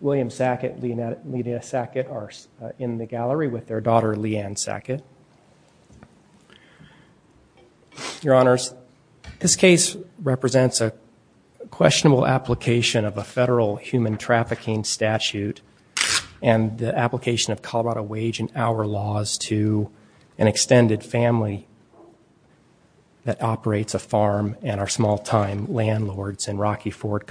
William Sackett, Lina Sackett are in the gallery with their daughter, Leanne Sackett. Your Honors, this case represents a questionable application of a federal human trafficking statute and the application of Colorado wage and hour laws to an extended family that operates a farm and are small-time landlords in Rocky Ford.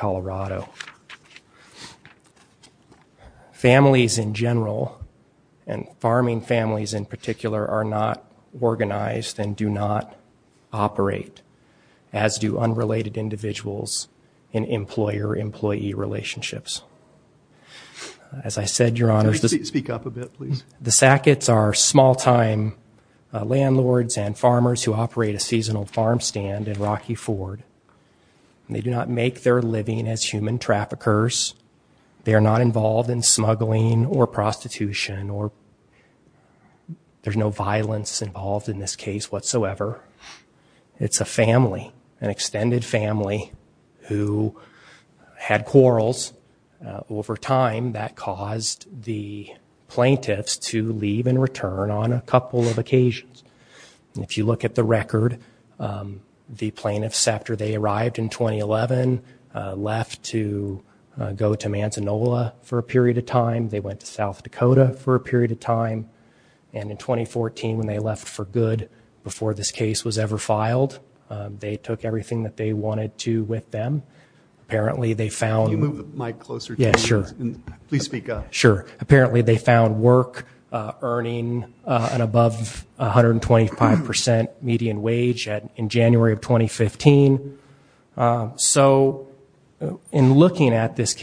They do not make their living as human traffickers. They are not involved in smuggling or prostitution or there's no violation of the law. in this case whatsoever. It's a family, an extended family who had quarrels over time that caused the plaintiffs to leave and return on a couple of occasions. If you look at the record, the plaintiffs after they arrived in 2011 left to go to Manzanola for a period of time. They went to South Dakota for a period of time and in 2014 when they left for good, before this case was ever filed, they took everything that they wanted to with them. Apparently they found work earning an above 125% median wage in January of 2015. So in looking at this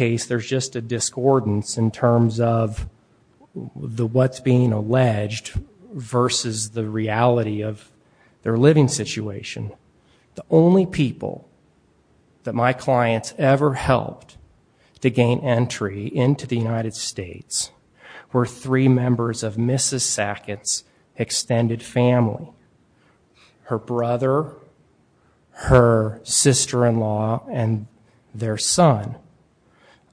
versus the reality of their living situation, the only people that my clients ever helped to gain entry into the United States were three members of Mrs. Sackett's extended family. Her brother, her sister-in-law, and their son.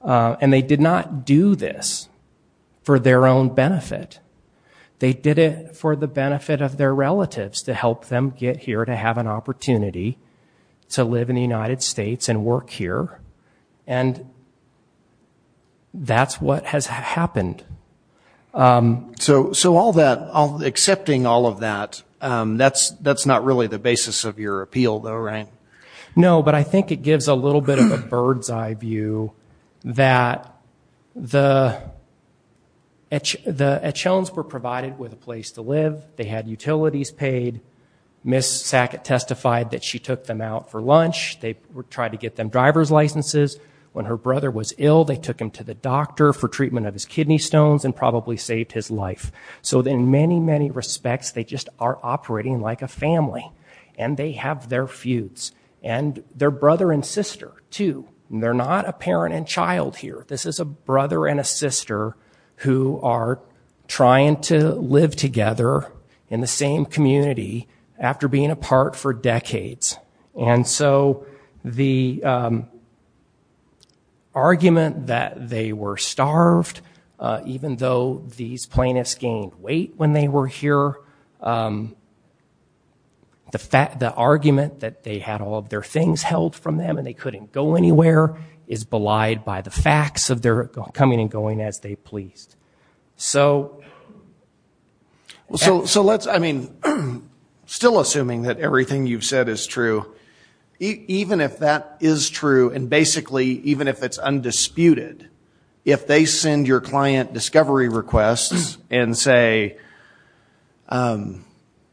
And they did not do this for their own benefit. They did it for the benefit of their relatives to help them get here to have an opportunity to live in the United States and work here and that's what has happened. So all that, excepting all of that, that's not really the basis of your appeal though, right? No, but I think it gives a little bit of a bird's-eye view that the echelons were provided with a place to live. They had utilities paid. Mrs. Sackett testified that she took them out for lunch. They tried to get them driver's licenses. When her brother was ill, they took him to the doctor for treatment of his kidney stones and probably saved his life. So in many, many respects, they just are operating like a family and they have their feuds. And they're brother and sister, too. They're not a parent and child here. This is a brother and a sister who are trying to live together in the same community after being apart for decades. And so the argument that they were starved, even though these the argument that they had all of their things held from them and they couldn't go anywhere is belied by the facts of their coming and going as they pleased. So, so let's, I mean, still assuming that everything you've said is true, even if that is true and basically even if it's undisputed, if they send your client discovery requests and say, and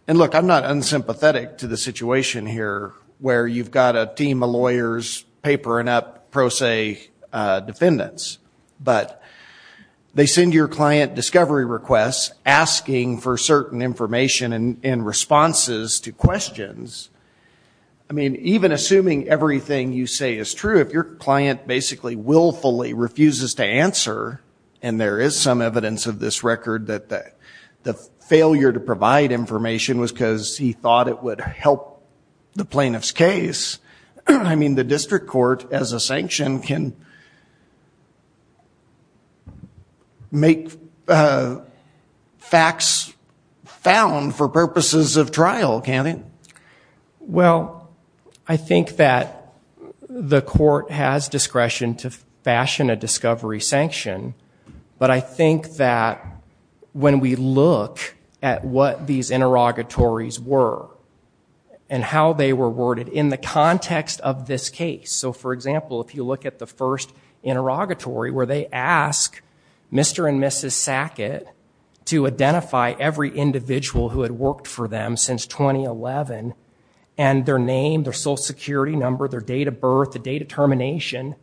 look, I'm not unsympathetic to the situation here where you've got a team of lawyers papering up pro se defendants, but they send your client discovery requests asking for certain information and responses to questions, I mean, even assuming everything you say is true, if your client basically willfully refuses to answer, and there is some evidence of this record that the failure to provide information was because he thought it would help the plaintiff's case, I mean, the district court, as a sanction, can make facts found for purposes of trial, can't it? Well, I think that the court has discretion to fashion a discovery sanction, but I think that when we look at what these interrogatories were and how they were worded in the context of this case, so for example, if you look at the first interrogatory where they ask Mr. and Mrs. Sackett to identify every 11 and their name, their social security number, their date of birth, the date of termination,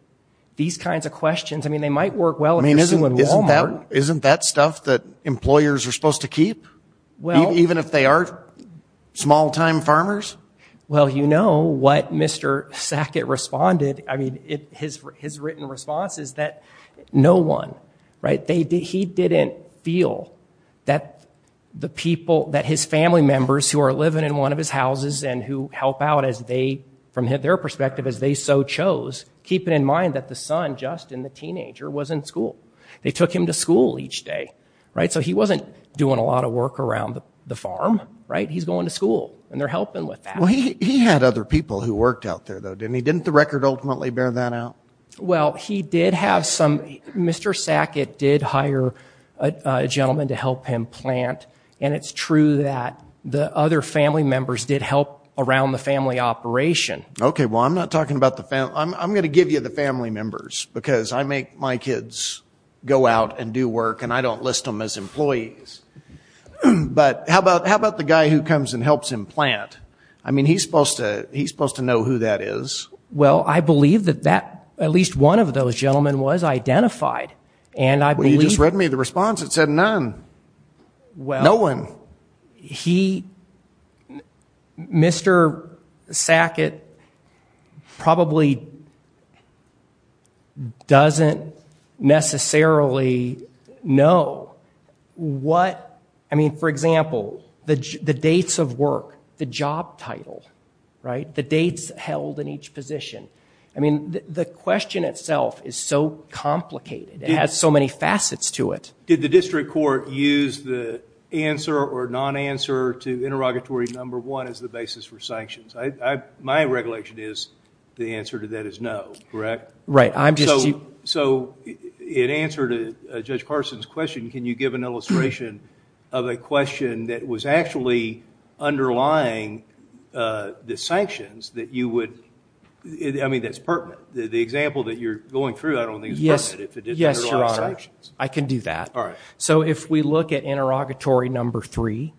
these kinds of questions, I mean, they might work well if you're still in Walmart. I mean, isn't that stuff that employers are supposed to keep? Well, even if they are small-time farmers? Well, you know what Mr. Sackett responded, I mean, his written response is that no one, right, he didn't feel that the people, that his family members who are living in one of his houses and who help out as they, from their perspective, as they so chose, keep it in mind that the son, Justin, the teenager, was in school. They took him to school each day, right, so he wasn't doing a lot of work around the farm, right, he's going to school and they're helping with that. Well, he had other people who worked out there though, didn't he? Didn't the record ultimately bear that out? Well, he did have some, Mr. Sackett did hire a gentleman to help him plant and it's true that the other family members did help around the family operation. Okay, well, I'm not talking about the family, I'm gonna give you the family members because I make my kids go out and do work and I don't list them as employees, but how about, how about the guy who comes and helps him plant? I mean, he's supposed to, he's supposed to know who that is. Well, I believe that that, at least one of those gentlemen was identified and I believe... Well, you just read me the Well, no one. He, Mr. Sackett probably doesn't necessarily know what, I mean, for example, the dates of work, the job title, right, the dates held in each position. I mean, the question itself is so complicated, it has so many facets to it. Did the district court use the answer or non-answer to interrogatory number one as the basis for sanctions? My regulation is the answer to that is no, correct? Right, I'm just... So, in answer to Judge Carson's question, can you give an illustration of a question that was actually underlying the sanctions that you would, I mean, that's pertinent. The example that you're going through, I can do that. So, if we look at interrogatory number three,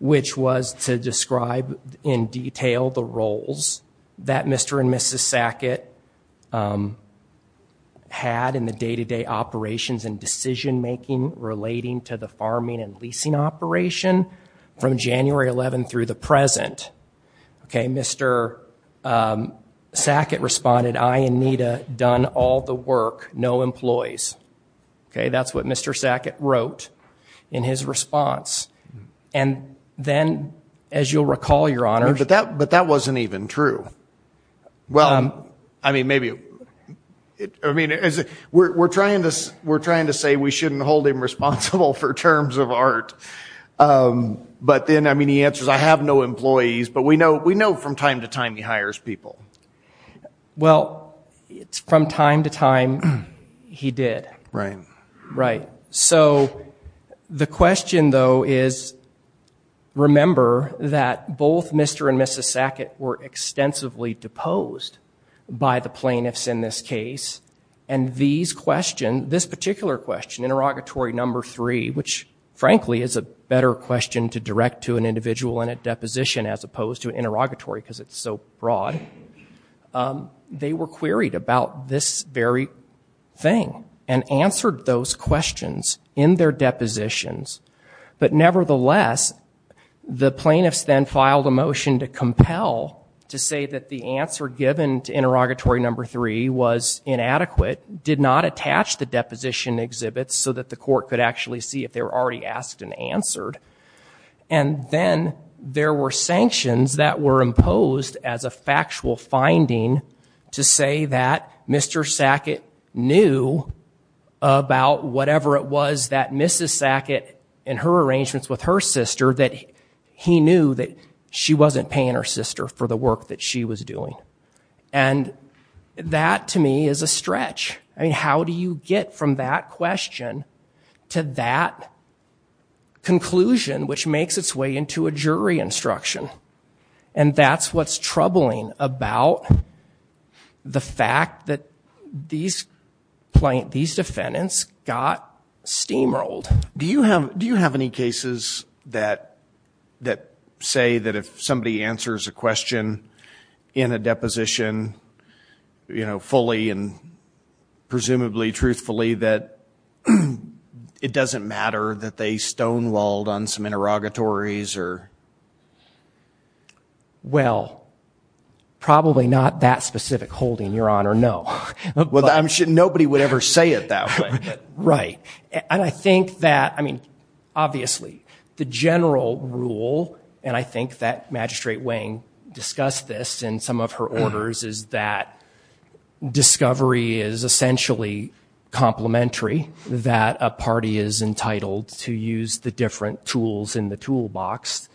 which was to describe in detail the roles that Mr. and Mrs. Sackett had in the day-to-day operations and decision-making relating to the farming and leasing operation from January 11 through the present. Okay, Mr. Sackett responded, I and Nita done all the work, no employees. Okay, that's what Mr. Sackett wrote in his response. And then, as you'll recall, Your Honor... But that wasn't even true. Well, I mean, maybe... I mean, we're trying to say we shouldn't hold him responsible for terms of art, but then, I mean, he answers, I have no employees, but we know from time to time he hires people. Well, it's from time to time he did. Right. Right. So, the question, though, is, remember that both Mr. and Mrs. Sackett were extensively deposed by the plaintiffs in this case, and these questions, this particular question, interrogatory number three, which, frankly, is a better question to direct to an individual in a deposition as opposed to an interrogatory because it's so broad, they were queried about this very thing and answered those questions in their depositions. But nevertheless, the plaintiffs then filed a motion to compel to say that the answer given to interrogatory number three was inadequate, did not attach the deposition exhibits so that the court could actually see if they were already asked and answered. And then, there were sanctions that were imposed as a factual finding to say that Mr. Sackett knew about whatever it was that Mrs. Sackett, in her arrangements with her sister, that he knew that she wasn't paying her sister for the work that she was doing. And that, to me, is a stretch. I to that conclusion, which makes its way into a jury instruction. And that's what's troubling about the fact that these defendants got steamrolled. Do you have any cases that say that if somebody answers a question in a doesn't matter that they stonewalled on some interrogatories or? Well, probably not that specific holding, your honor, no. Well, I'm sure nobody would ever say it that way. Right. And I think that, I mean, obviously, the general rule, and I think that Magistrate Wayne discussed this in some of her orders, is that discovery is entitled to use the different tools in the toolbox,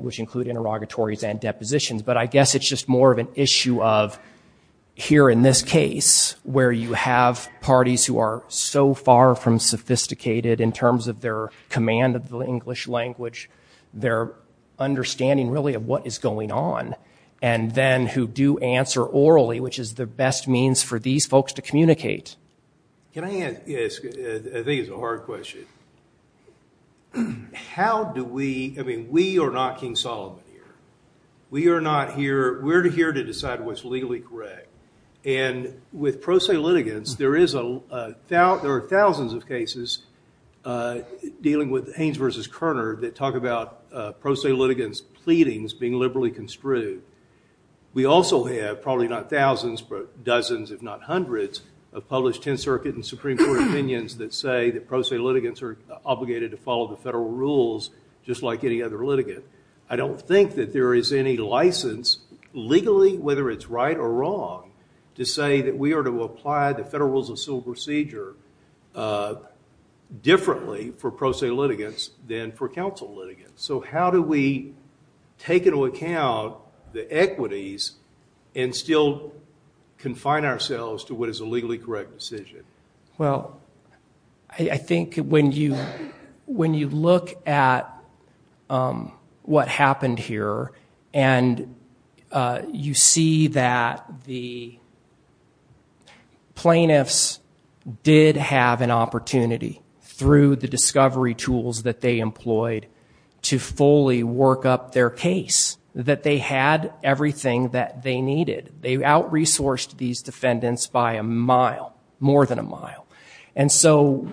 which include interrogatories and depositions. But I guess it's just more of an issue of, here in this case, where you have parties who are so far from sophisticated in terms of their command of the English language, their understanding, really, of what is going on. And then, who do answer orally, which is the best means for these folks to communicate? Can I ask, I think it's a hard question. How do we, I mean, we are not King Solomon here. We are not here, we're here to decide what's legally correct. And with pro se litigants, there is a, there are thousands of cases dealing with Haynes versus Kerner that talk about pro se litigants pleadings being liberally construed. We also have, probably not thousands, but dozens, if not hundreds, of published Tenth Circuit and Supreme Court opinions that say that pro se litigants are obligated to follow the federal rules, just like any other litigant. I don't think that there is any license, legally, whether it's right or wrong, to say that we are to apply the federal rules of civil procedure differently for pro se litigants than for counsel litigants. So how do we take into account the equities and still confine ourselves to what is a legally correct decision? Well, I think when you, when you look at what happened here and you see that the plaintiffs did have an opportunity, through the discovery tools that they employed, to fully work up their case, that they had everything that they needed. They out-resourced these defendants by a mile, more than a mile. And so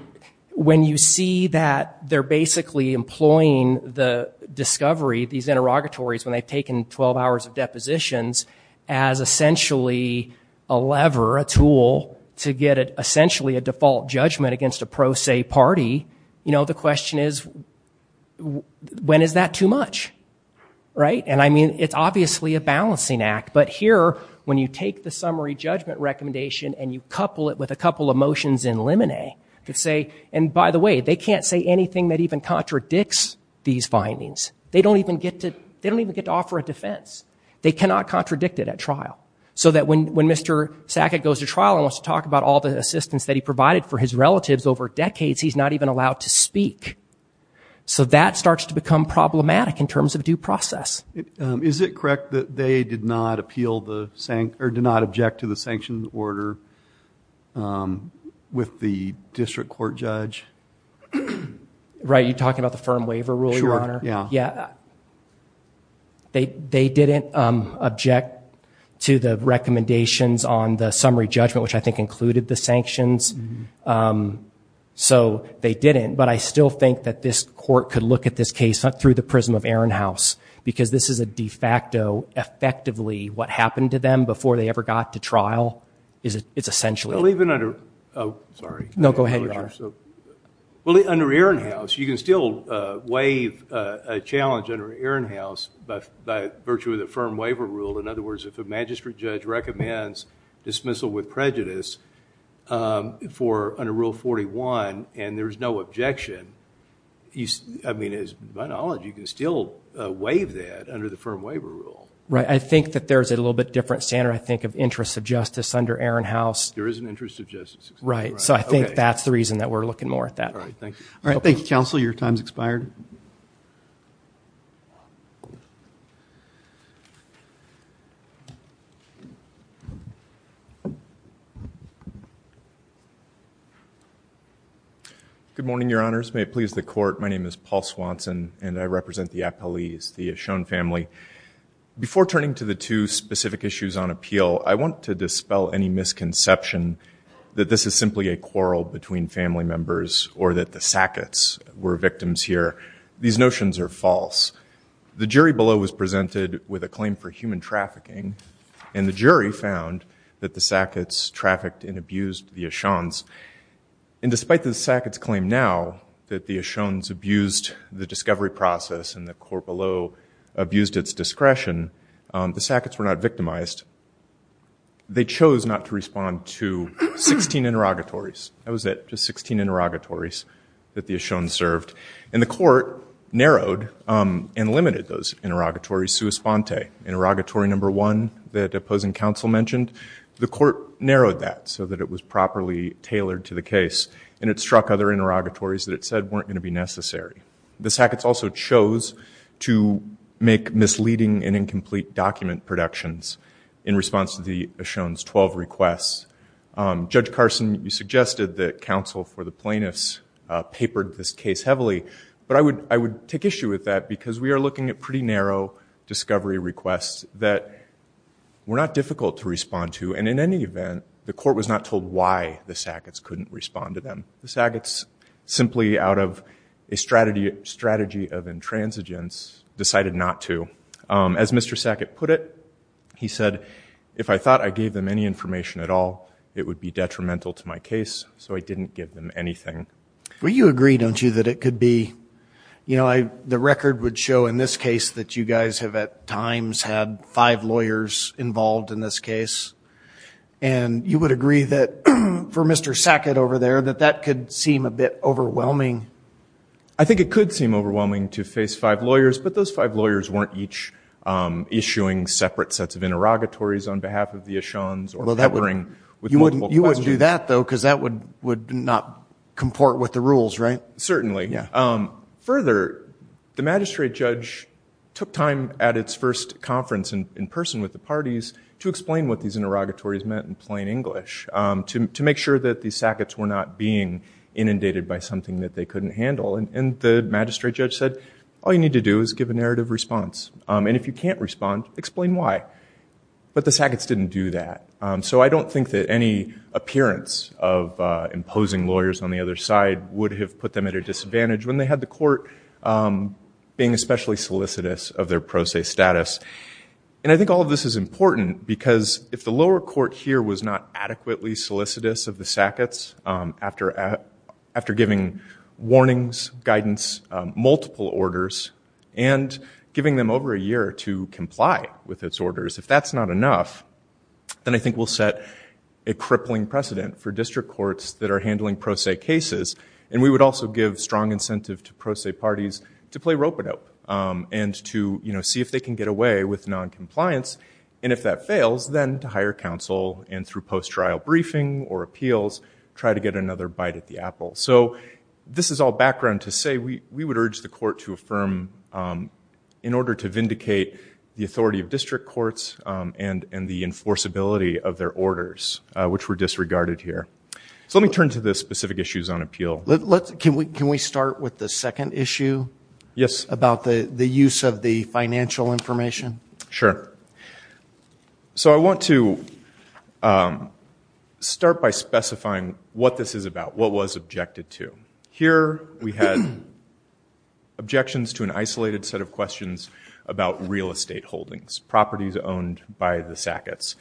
when you see that they're basically employing the discovery, these interrogatories, when they've taken 12 hours of depositions, as essentially a lever, a tool, to get it essentially a default judgment against a pro se party, you know, the question is, when is that too much? Right? And I mean, it's obviously a balancing act. But here, when you take the summary judgment recommendation and you couple it with a couple of motions in limine, to say, and by the way, they can't say anything that even contradicts these findings. They don't even get to, they don't even get to offer a defense. They cannot contradict it at trial. So that when Mr. Sackett goes to trial and wants to talk about all the assistance that he was given, he's not even allowed to speak. So that starts to become problematic in terms of due process. Is it correct that they did not appeal the, or did not object to the sanctions order with the district court judge? Right, you're talking about the firm waiver rule, your honor? Yeah. They didn't object to the recommendations on the summary judgment, which I think included the sanctions. So they didn't, but I still think that this court could look at this case not through the prism of Ehrenhaus, because this is a de facto, effectively, what happened to them before they ever got to trial, is it, it's essentially. Well, even under, oh sorry. No, go ahead, your honor. Well, under Ehrenhaus, you can still waive a challenge under Ehrenhaus, but by virtue of the firm waiver rule, in other words, if a magistrate judge recommends dismissal with prejudice for under Rule 41, and there's no objection, you, I mean, as my knowledge, you can still waive that under the firm waiver rule. Right, I think that there's a little bit different standard, I think, of interest of justice under Ehrenhaus. There is an interest of justice. Right, so I think that's the reason that we're looking more at that. All right, thank you. All right, thank you, counsel. Your time's expired. Good morning, your honors. May it please the court, my name is Paul Swanson, and I represent the Appellees, the Eshon family. Before turning to the two specific issues on appeal, I want to dispel any misconception that this is simply a quarrel between family members, or that the Sacketts were victims here. These notions are false. The jury below was presented with a claim for human trafficking, and the jury found that the Sacketts trafficked and abused the discovery process. And despite the Sacketts claim now, that the Eshon's abused the discovery process, and the court below abused its discretion, the Sacketts were not victimized. They chose not to respond to 16 interrogatories. That was it, just 16 interrogatories that the Eshon served. And the court narrowed and limited those interrogatories sua sponte. Interrogatory number one, that opposing counsel mentioned, the court narrowed that so that it was properly tailored to the case, and it struck other interrogatories that it said weren't going to be necessary. The Sacketts also chose to make misleading and incomplete document productions in response to the Eshon's 12 requests. Judge Carson, you suggested that counsel for the plaintiffs papered this case heavily, but I would take issue with that because we are looking at pretty narrow discovery requests that were not difficult to respond to, and in any event the court was not told why the Sacketts couldn't respond to them. The Sacketts simply, out of a strategy of intransigence, decided not to. As Mr. Sackett put it, he said, if I thought I gave them any information at all, it would be detrimental to my case, so I didn't give them anything. Well you agree don't you that it could be, you know, the record would show in this case that you would agree that for Mr. Sackett over there that that could seem a bit overwhelming? I think it could seem overwhelming to face five lawyers, but those five lawyers weren't each issuing separate sets of interrogatories on behalf of the Eshon's or covering with multiple questions. You wouldn't do that though because that would not comport with the rules, right? Certainly. Further, the magistrate judge took time at its first conference in person with the parties to explain what these interrogatories meant in plain English, to make sure that these Sacketts were not being inundated by something that they couldn't handle, and the magistrate judge said, all you need to do is give a narrative response, and if you can't respond, explain why. But the Sacketts didn't do that, so I don't think that any appearance of imposing lawyers on the other side would have put them at a disadvantage when they had the court being especially solicitous of their pro se status. And I think all of this is important because if the lower court here was not adequately solicitous of the Sacketts after giving warnings, guidance, multiple orders, and giving them over a year to comply with its orders, if that's not enough, then I think we'll set a crippling precedent for district courts that are handling pro se cases, and we would also give strong incentive to pro se parties to play rope-a-dope, and to see if they can get away with non-compliance, and if that fails, then to hire counsel, and through post-trial briefing or appeals, try to get another bite at the apple. So this is all background to say we would urge the court to affirm in order to vindicate the authority of district courts and the enforceability of their orders, which were disregarded here. So let me turn to the specific issues on appeal. Can we start with the second issue? Yes. About the the use of the financial information? Sure. So I want to start by specifying what this is about, what was objected to. Here we had objections to an isolated set of questions about real estate holdings, properties owned by the Sacketts.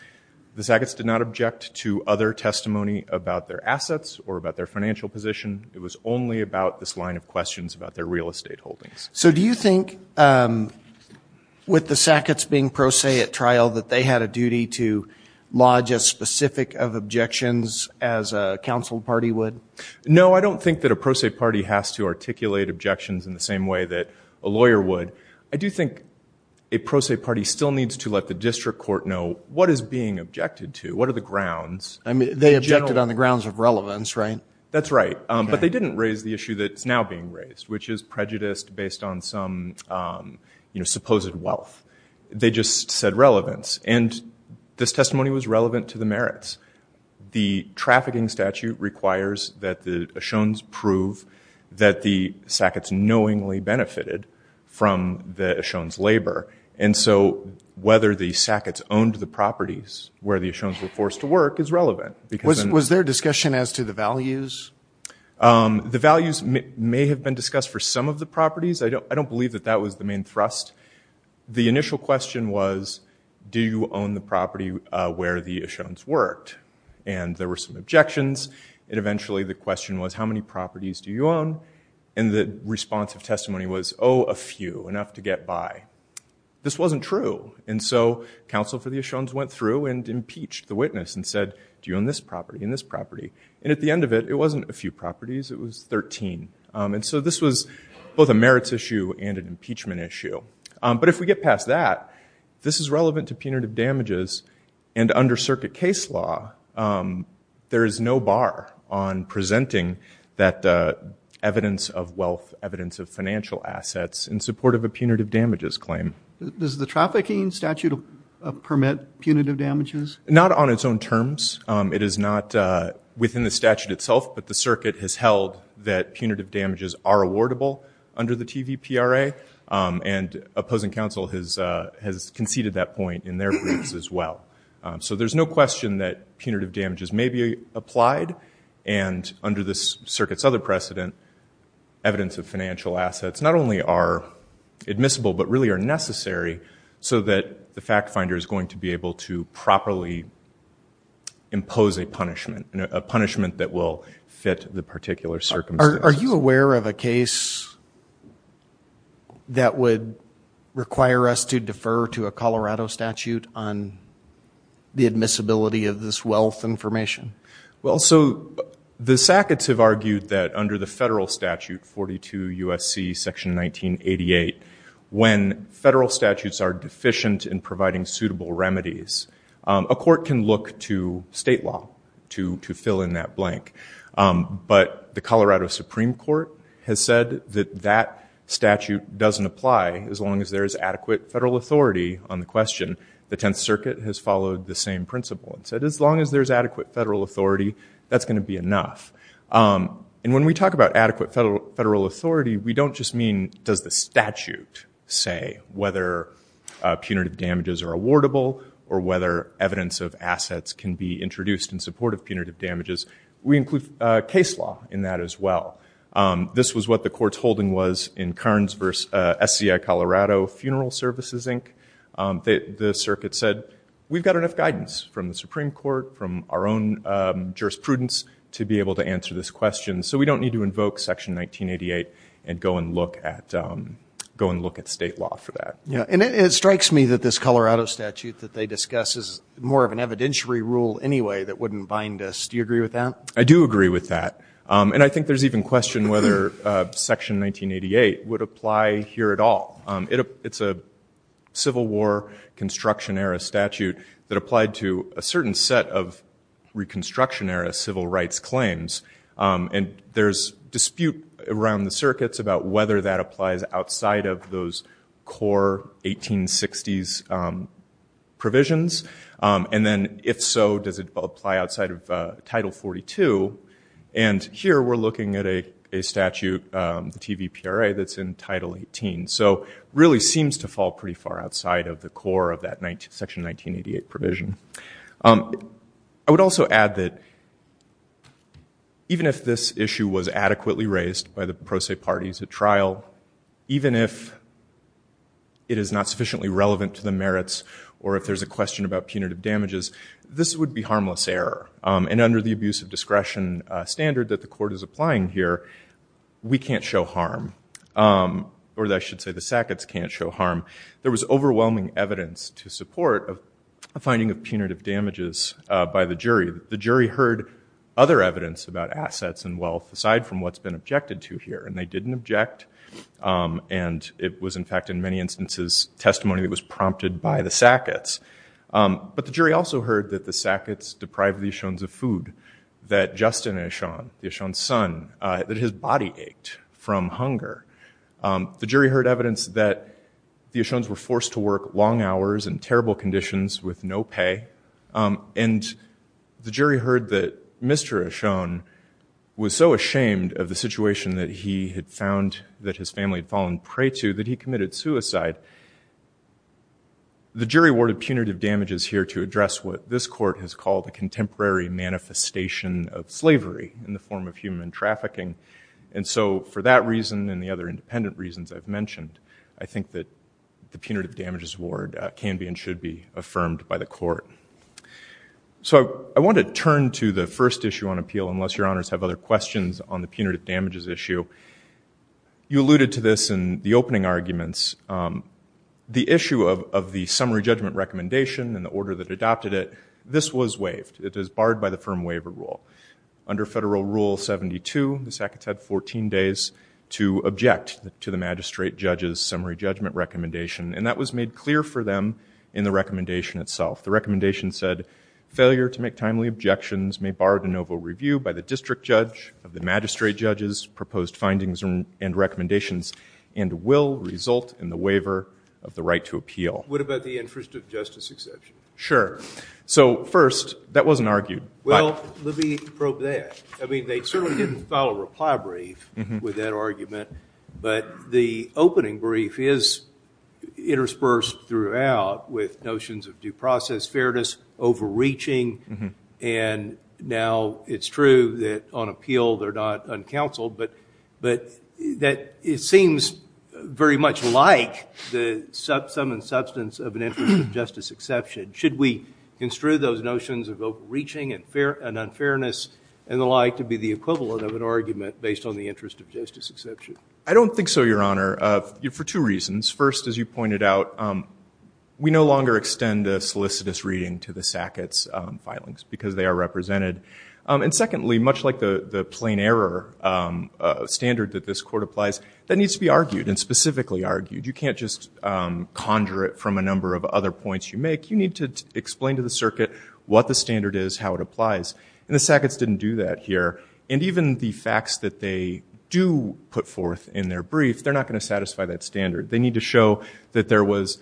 The Sacketts did not object to other testimony about their assets or about their financial position. It was only about this line of questions about their real estate holdings. So do you think, with the Sacketts being pro se at trial, that they had a duty to lodge as specific of objections as a counsel party would? No, I don't think that a pro se party has to articulate objections in the same way that a lawyer would. I do think a pro se party still needs to let the district court know what is being objected to, what are the grounds. I mean, they objected on the grounds of relevance, right? That's right. But they didn't raise the issue that's now being raised, which is prejudiced based on some you know supposed wealth. They just said relevance. And this testimony was relevant to the merits. The trafficking statute requires that the Ashones prove that the Sacketts knowingly benefited from the Ashones labor. And so whether the Sacketts owned the properties where the Ashones were forced to work is Was there discussion as to the values? The values may have been discussed for some of the properties. I don't believe that that was the main thrust. The initial question was, do you own the property where the Ashones worked? And there were some objections. And eventually the question was, how many properties do you own? And the response of testimony was, oh, a few, enough to get by. This wasn't true. And so counsel for the Ashones went through and impeached the witness and said, do you own this property and this property? And at the end of it, it wasn't a few properties. It was 13. And so this was both a merits issue and an impeachment issue. But if we get past that, this is relevant to punitive damages. And under circuit case law, there is no bar on presenting that evidence of wealth, evidence of financial assets in support of a punitive damages claim. Does the trafficking statute permit punitive damages? Not on its own terms. It is not within the statute itself, but the circuit has held that punitive damages are awardable under the TVPRA. And opposing counsel has conceded that point in their briefs as well. So there's no question that punitive damages may be applied. And under this circuit's other precedent, evidence of financial assets not only are admissible, but really are necessary so that the fact finder is going to be able to properly impose a punishment, a punishment that will fit the particular circumstances. Are you aware of a case that would require us to defer to a Colorado statute on the admissibility of this wealth information? Well, so the Sacketts have argued that under the federal statute 42 USC section 1988, when federal statutes are deficient in providing suitable remedies, a court can look to state law to fill in that blank. But the Colorado Supreme Court has said that that statute doesn't apply as long as there is adequate federal authority on the question. The 10th circuit has argued that as long as there's adequate federal authority, that's going to be enough. And when we talk about adequate federal authority, we don't just mean does the statute say whether punitive damages are awardable or whether evidence of assets can be introduced in support of punitive damages. We include case law in that as well. This was what the court's holding was in Carnes versus SCI Colorado Funeral Services, Inc. The circuit said, we've got enough guidance from the Supreme Court, from our own jurisprudence to be able to answer this question. So we don't need to invoke section 1988 and go and look at go and look at state law for that. Yeah. And it strikes me that this Colorado statute that they discuss is more of an evidentiary rule anyway that wouldn't bind us. Do you agree with that? I do agree with that. And I think there's even question whether section 1988 would apply here at all. It's a Civil War construction era statute that applied to a certain set of reconstruction era civil rights claims. And there's dispute around the circuits about whether that applies outside of those core 1860s provisions. And then if so, does it apply outside of Title 42? And here we're looking at a statute, the TVPRA, that's in Title 18. So really seems to fall pretty far outside of the core of that section 1988 provision. I would also add that even if this issue was adequately raised by the pro se parties at trial, even if it is not sufficiently relevant to the merits, or if there's a question about punitive damages, this would be harmless error. And under the abuse of discretion standard that the court is unable to show harm, or that I should say the Sackets can't show harm, there was overwhelming evidence to support a finding of punitive damages by the jury. The jury heard other evidence about assets and wealth aside from what's been objected to here. And they didn't object, and it was in fact in many instances testimony that was prompted by the Sackets. But the jury also heard that the Sackets deprived the Eshons of food, that Justin Eshon, the Eshon's son, that his son had become hunger. The jury heard evidence that the Eshons were forced to work long hours and terrible conditions with no pay. And the jury heard that Mr. Eshon was so ashamed of the situation that he had found that his family had fallen prey to, that he committed suicide. The jury awarded punitive damages here to address what this court has called a contemporary manifestation of slavery in the form of human trafficking. And so for that reason and the other independent reasons I've mentioned, I think that the punitive damages award can be and should be affirmed by the court. So I want to turn to the first issue on appeal, unless your honors have other questions on the punitive damages issue. You alluded to this in the opening arguments. The issue of the summary judgment recommendation and the order that adopted it, this was waived. It is barred by the firm waiver rule. Under federal rule 72, the Sacketts had 14 days to object to the magistrate judge's summary judgment recommendation. And that was made clear for them in the recommendation itself. The recommendation said, failure to make timely objections may bar a de novo review by the district judge of the magistrate judge's proposed findings and recommendations and will result in the waiver of the right to appeal. What about the interest of justice exception? Sure. So first, that should be probed there. I mean, they certainly didn't file a reply brief with that argument, but the opening brief is interspersed throughout with notions of due process, fairness, overreaching, and now it's true that on appeal they're not uncounseled, but that it seems very much like the sum and substance of an interest of justice exception. Should we construe those notions of overreaching and unfairness and the like to be the equivalent of an argument based on the interest of justice exception? I don't think so, Your Honor, for two reasons. First, as you pointed out, we no longer extend a solicitous reading to the Sacketts filings because they are represented. And secondly, much like the the plain error standard that this court applies, that needs to be argued and specifically argued. You can't just conjure it from a number of other points you make. You need to explain to the circuit what the standard is, how it applies, and the Sacketts didn't do that here. And even the facts that they do put forth in their brief, they're not going to satisfy that standard. They need to show that there was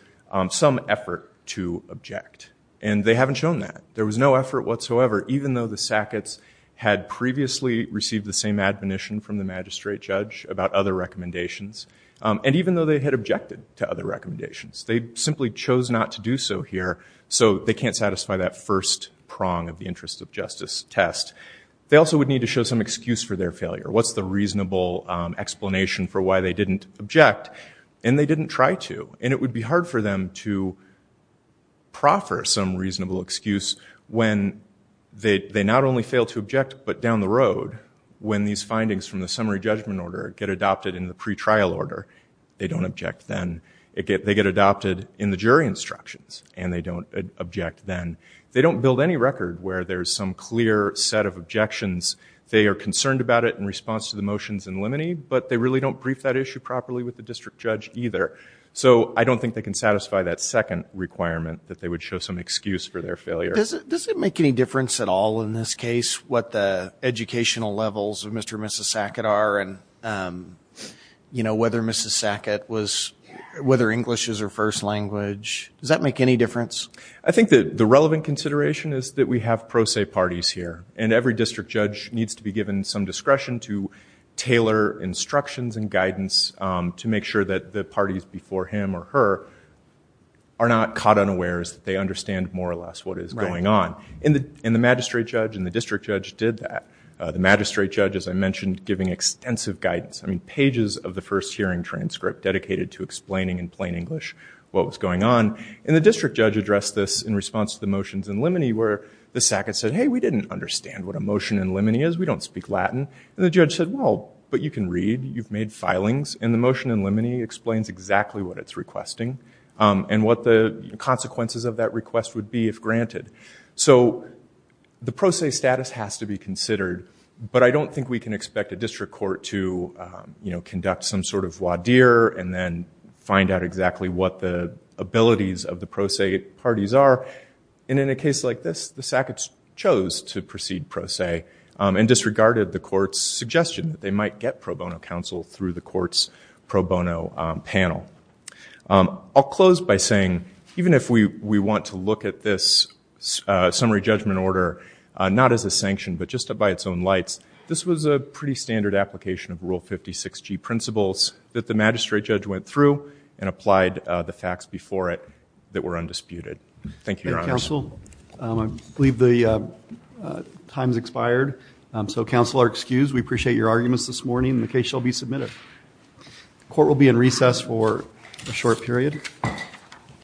some effort to object, and they haven't shown that. There was no effort whatsoever, even though the Sacketts had previously received the same admonition from the magistrate judge about other recommendations, and even though they had objected to other recommendations. They simply chose not to do so here, so they can't satisfy that first prong of the interest of justice test. They also would need to show some excuse for their failure. What's the reasonable explanation for why they didn't object? And they didn't try to. And it would be hard for them to proffer some reasonable excuse when they not only fail to object, but down the road, when these findings from the summary judgment order get adopted in the pretrial order, they don't object then. They get adopted in the jury instructions, and they don't object then. They don't build any record where there's some clear set of objections. They are concerned about it in response to the motions in limine, but they really don't brief that issue properly with the district judge either. So I don't think they can satisfy that second requirement that they would show some excuse for their failure. Does it make any difference at all in this case what the educational levels of Mr. and Mrs. Sackett are, and whether Mrs. Sackett was, whether English is her first language? Does that make any difference? I think that the relevant consideration is that we have pro se parties here, and every district judge needs to be given some discretion to tailor instructions and guidance to make sure that the parties before him or her are not caught unawares that they understand more or less what is going on. And the magistrate judge and the district judge did that. The magistrate judge, as I mentioned, giving extensive guidance. I mean, pages of the first hearing transcript dedicated to explaining in plain English what was going on. And the district judge addressed this in response to the motions in limine where the Sackett said, hey, we didn't understand what a motion in limine is. We don't speak Latin. And the judge said, well, but you can read. You've made filings. And the motion in limine explains exactly what it's requesting and what the consequences of that request would be if granted. So the pro se status has to be considered. But I don't think we can expect a district court to conduct some sort of voir dire and then find out exactly what the abilities of the pro se parties are. And in a case like this, the Sacketts chose to proceed pro se and disregarded the court's suggestion that they might get pro bono counsel through the court's pro bono panel. I'll close by saying, even if we want to look at this summary judgment order not as a sanction, but just by its own lights, this was a pretty standard application of Rule 56G principles that the magistrate judge went through and applied the facts before it that were undisputed. Thank you, Your Honor. Thank you, counsel. I believe the time's expired. So counsel are excused. We appreciate your arguments this morning. The case shall be submitted. Court will be in recess for a short period.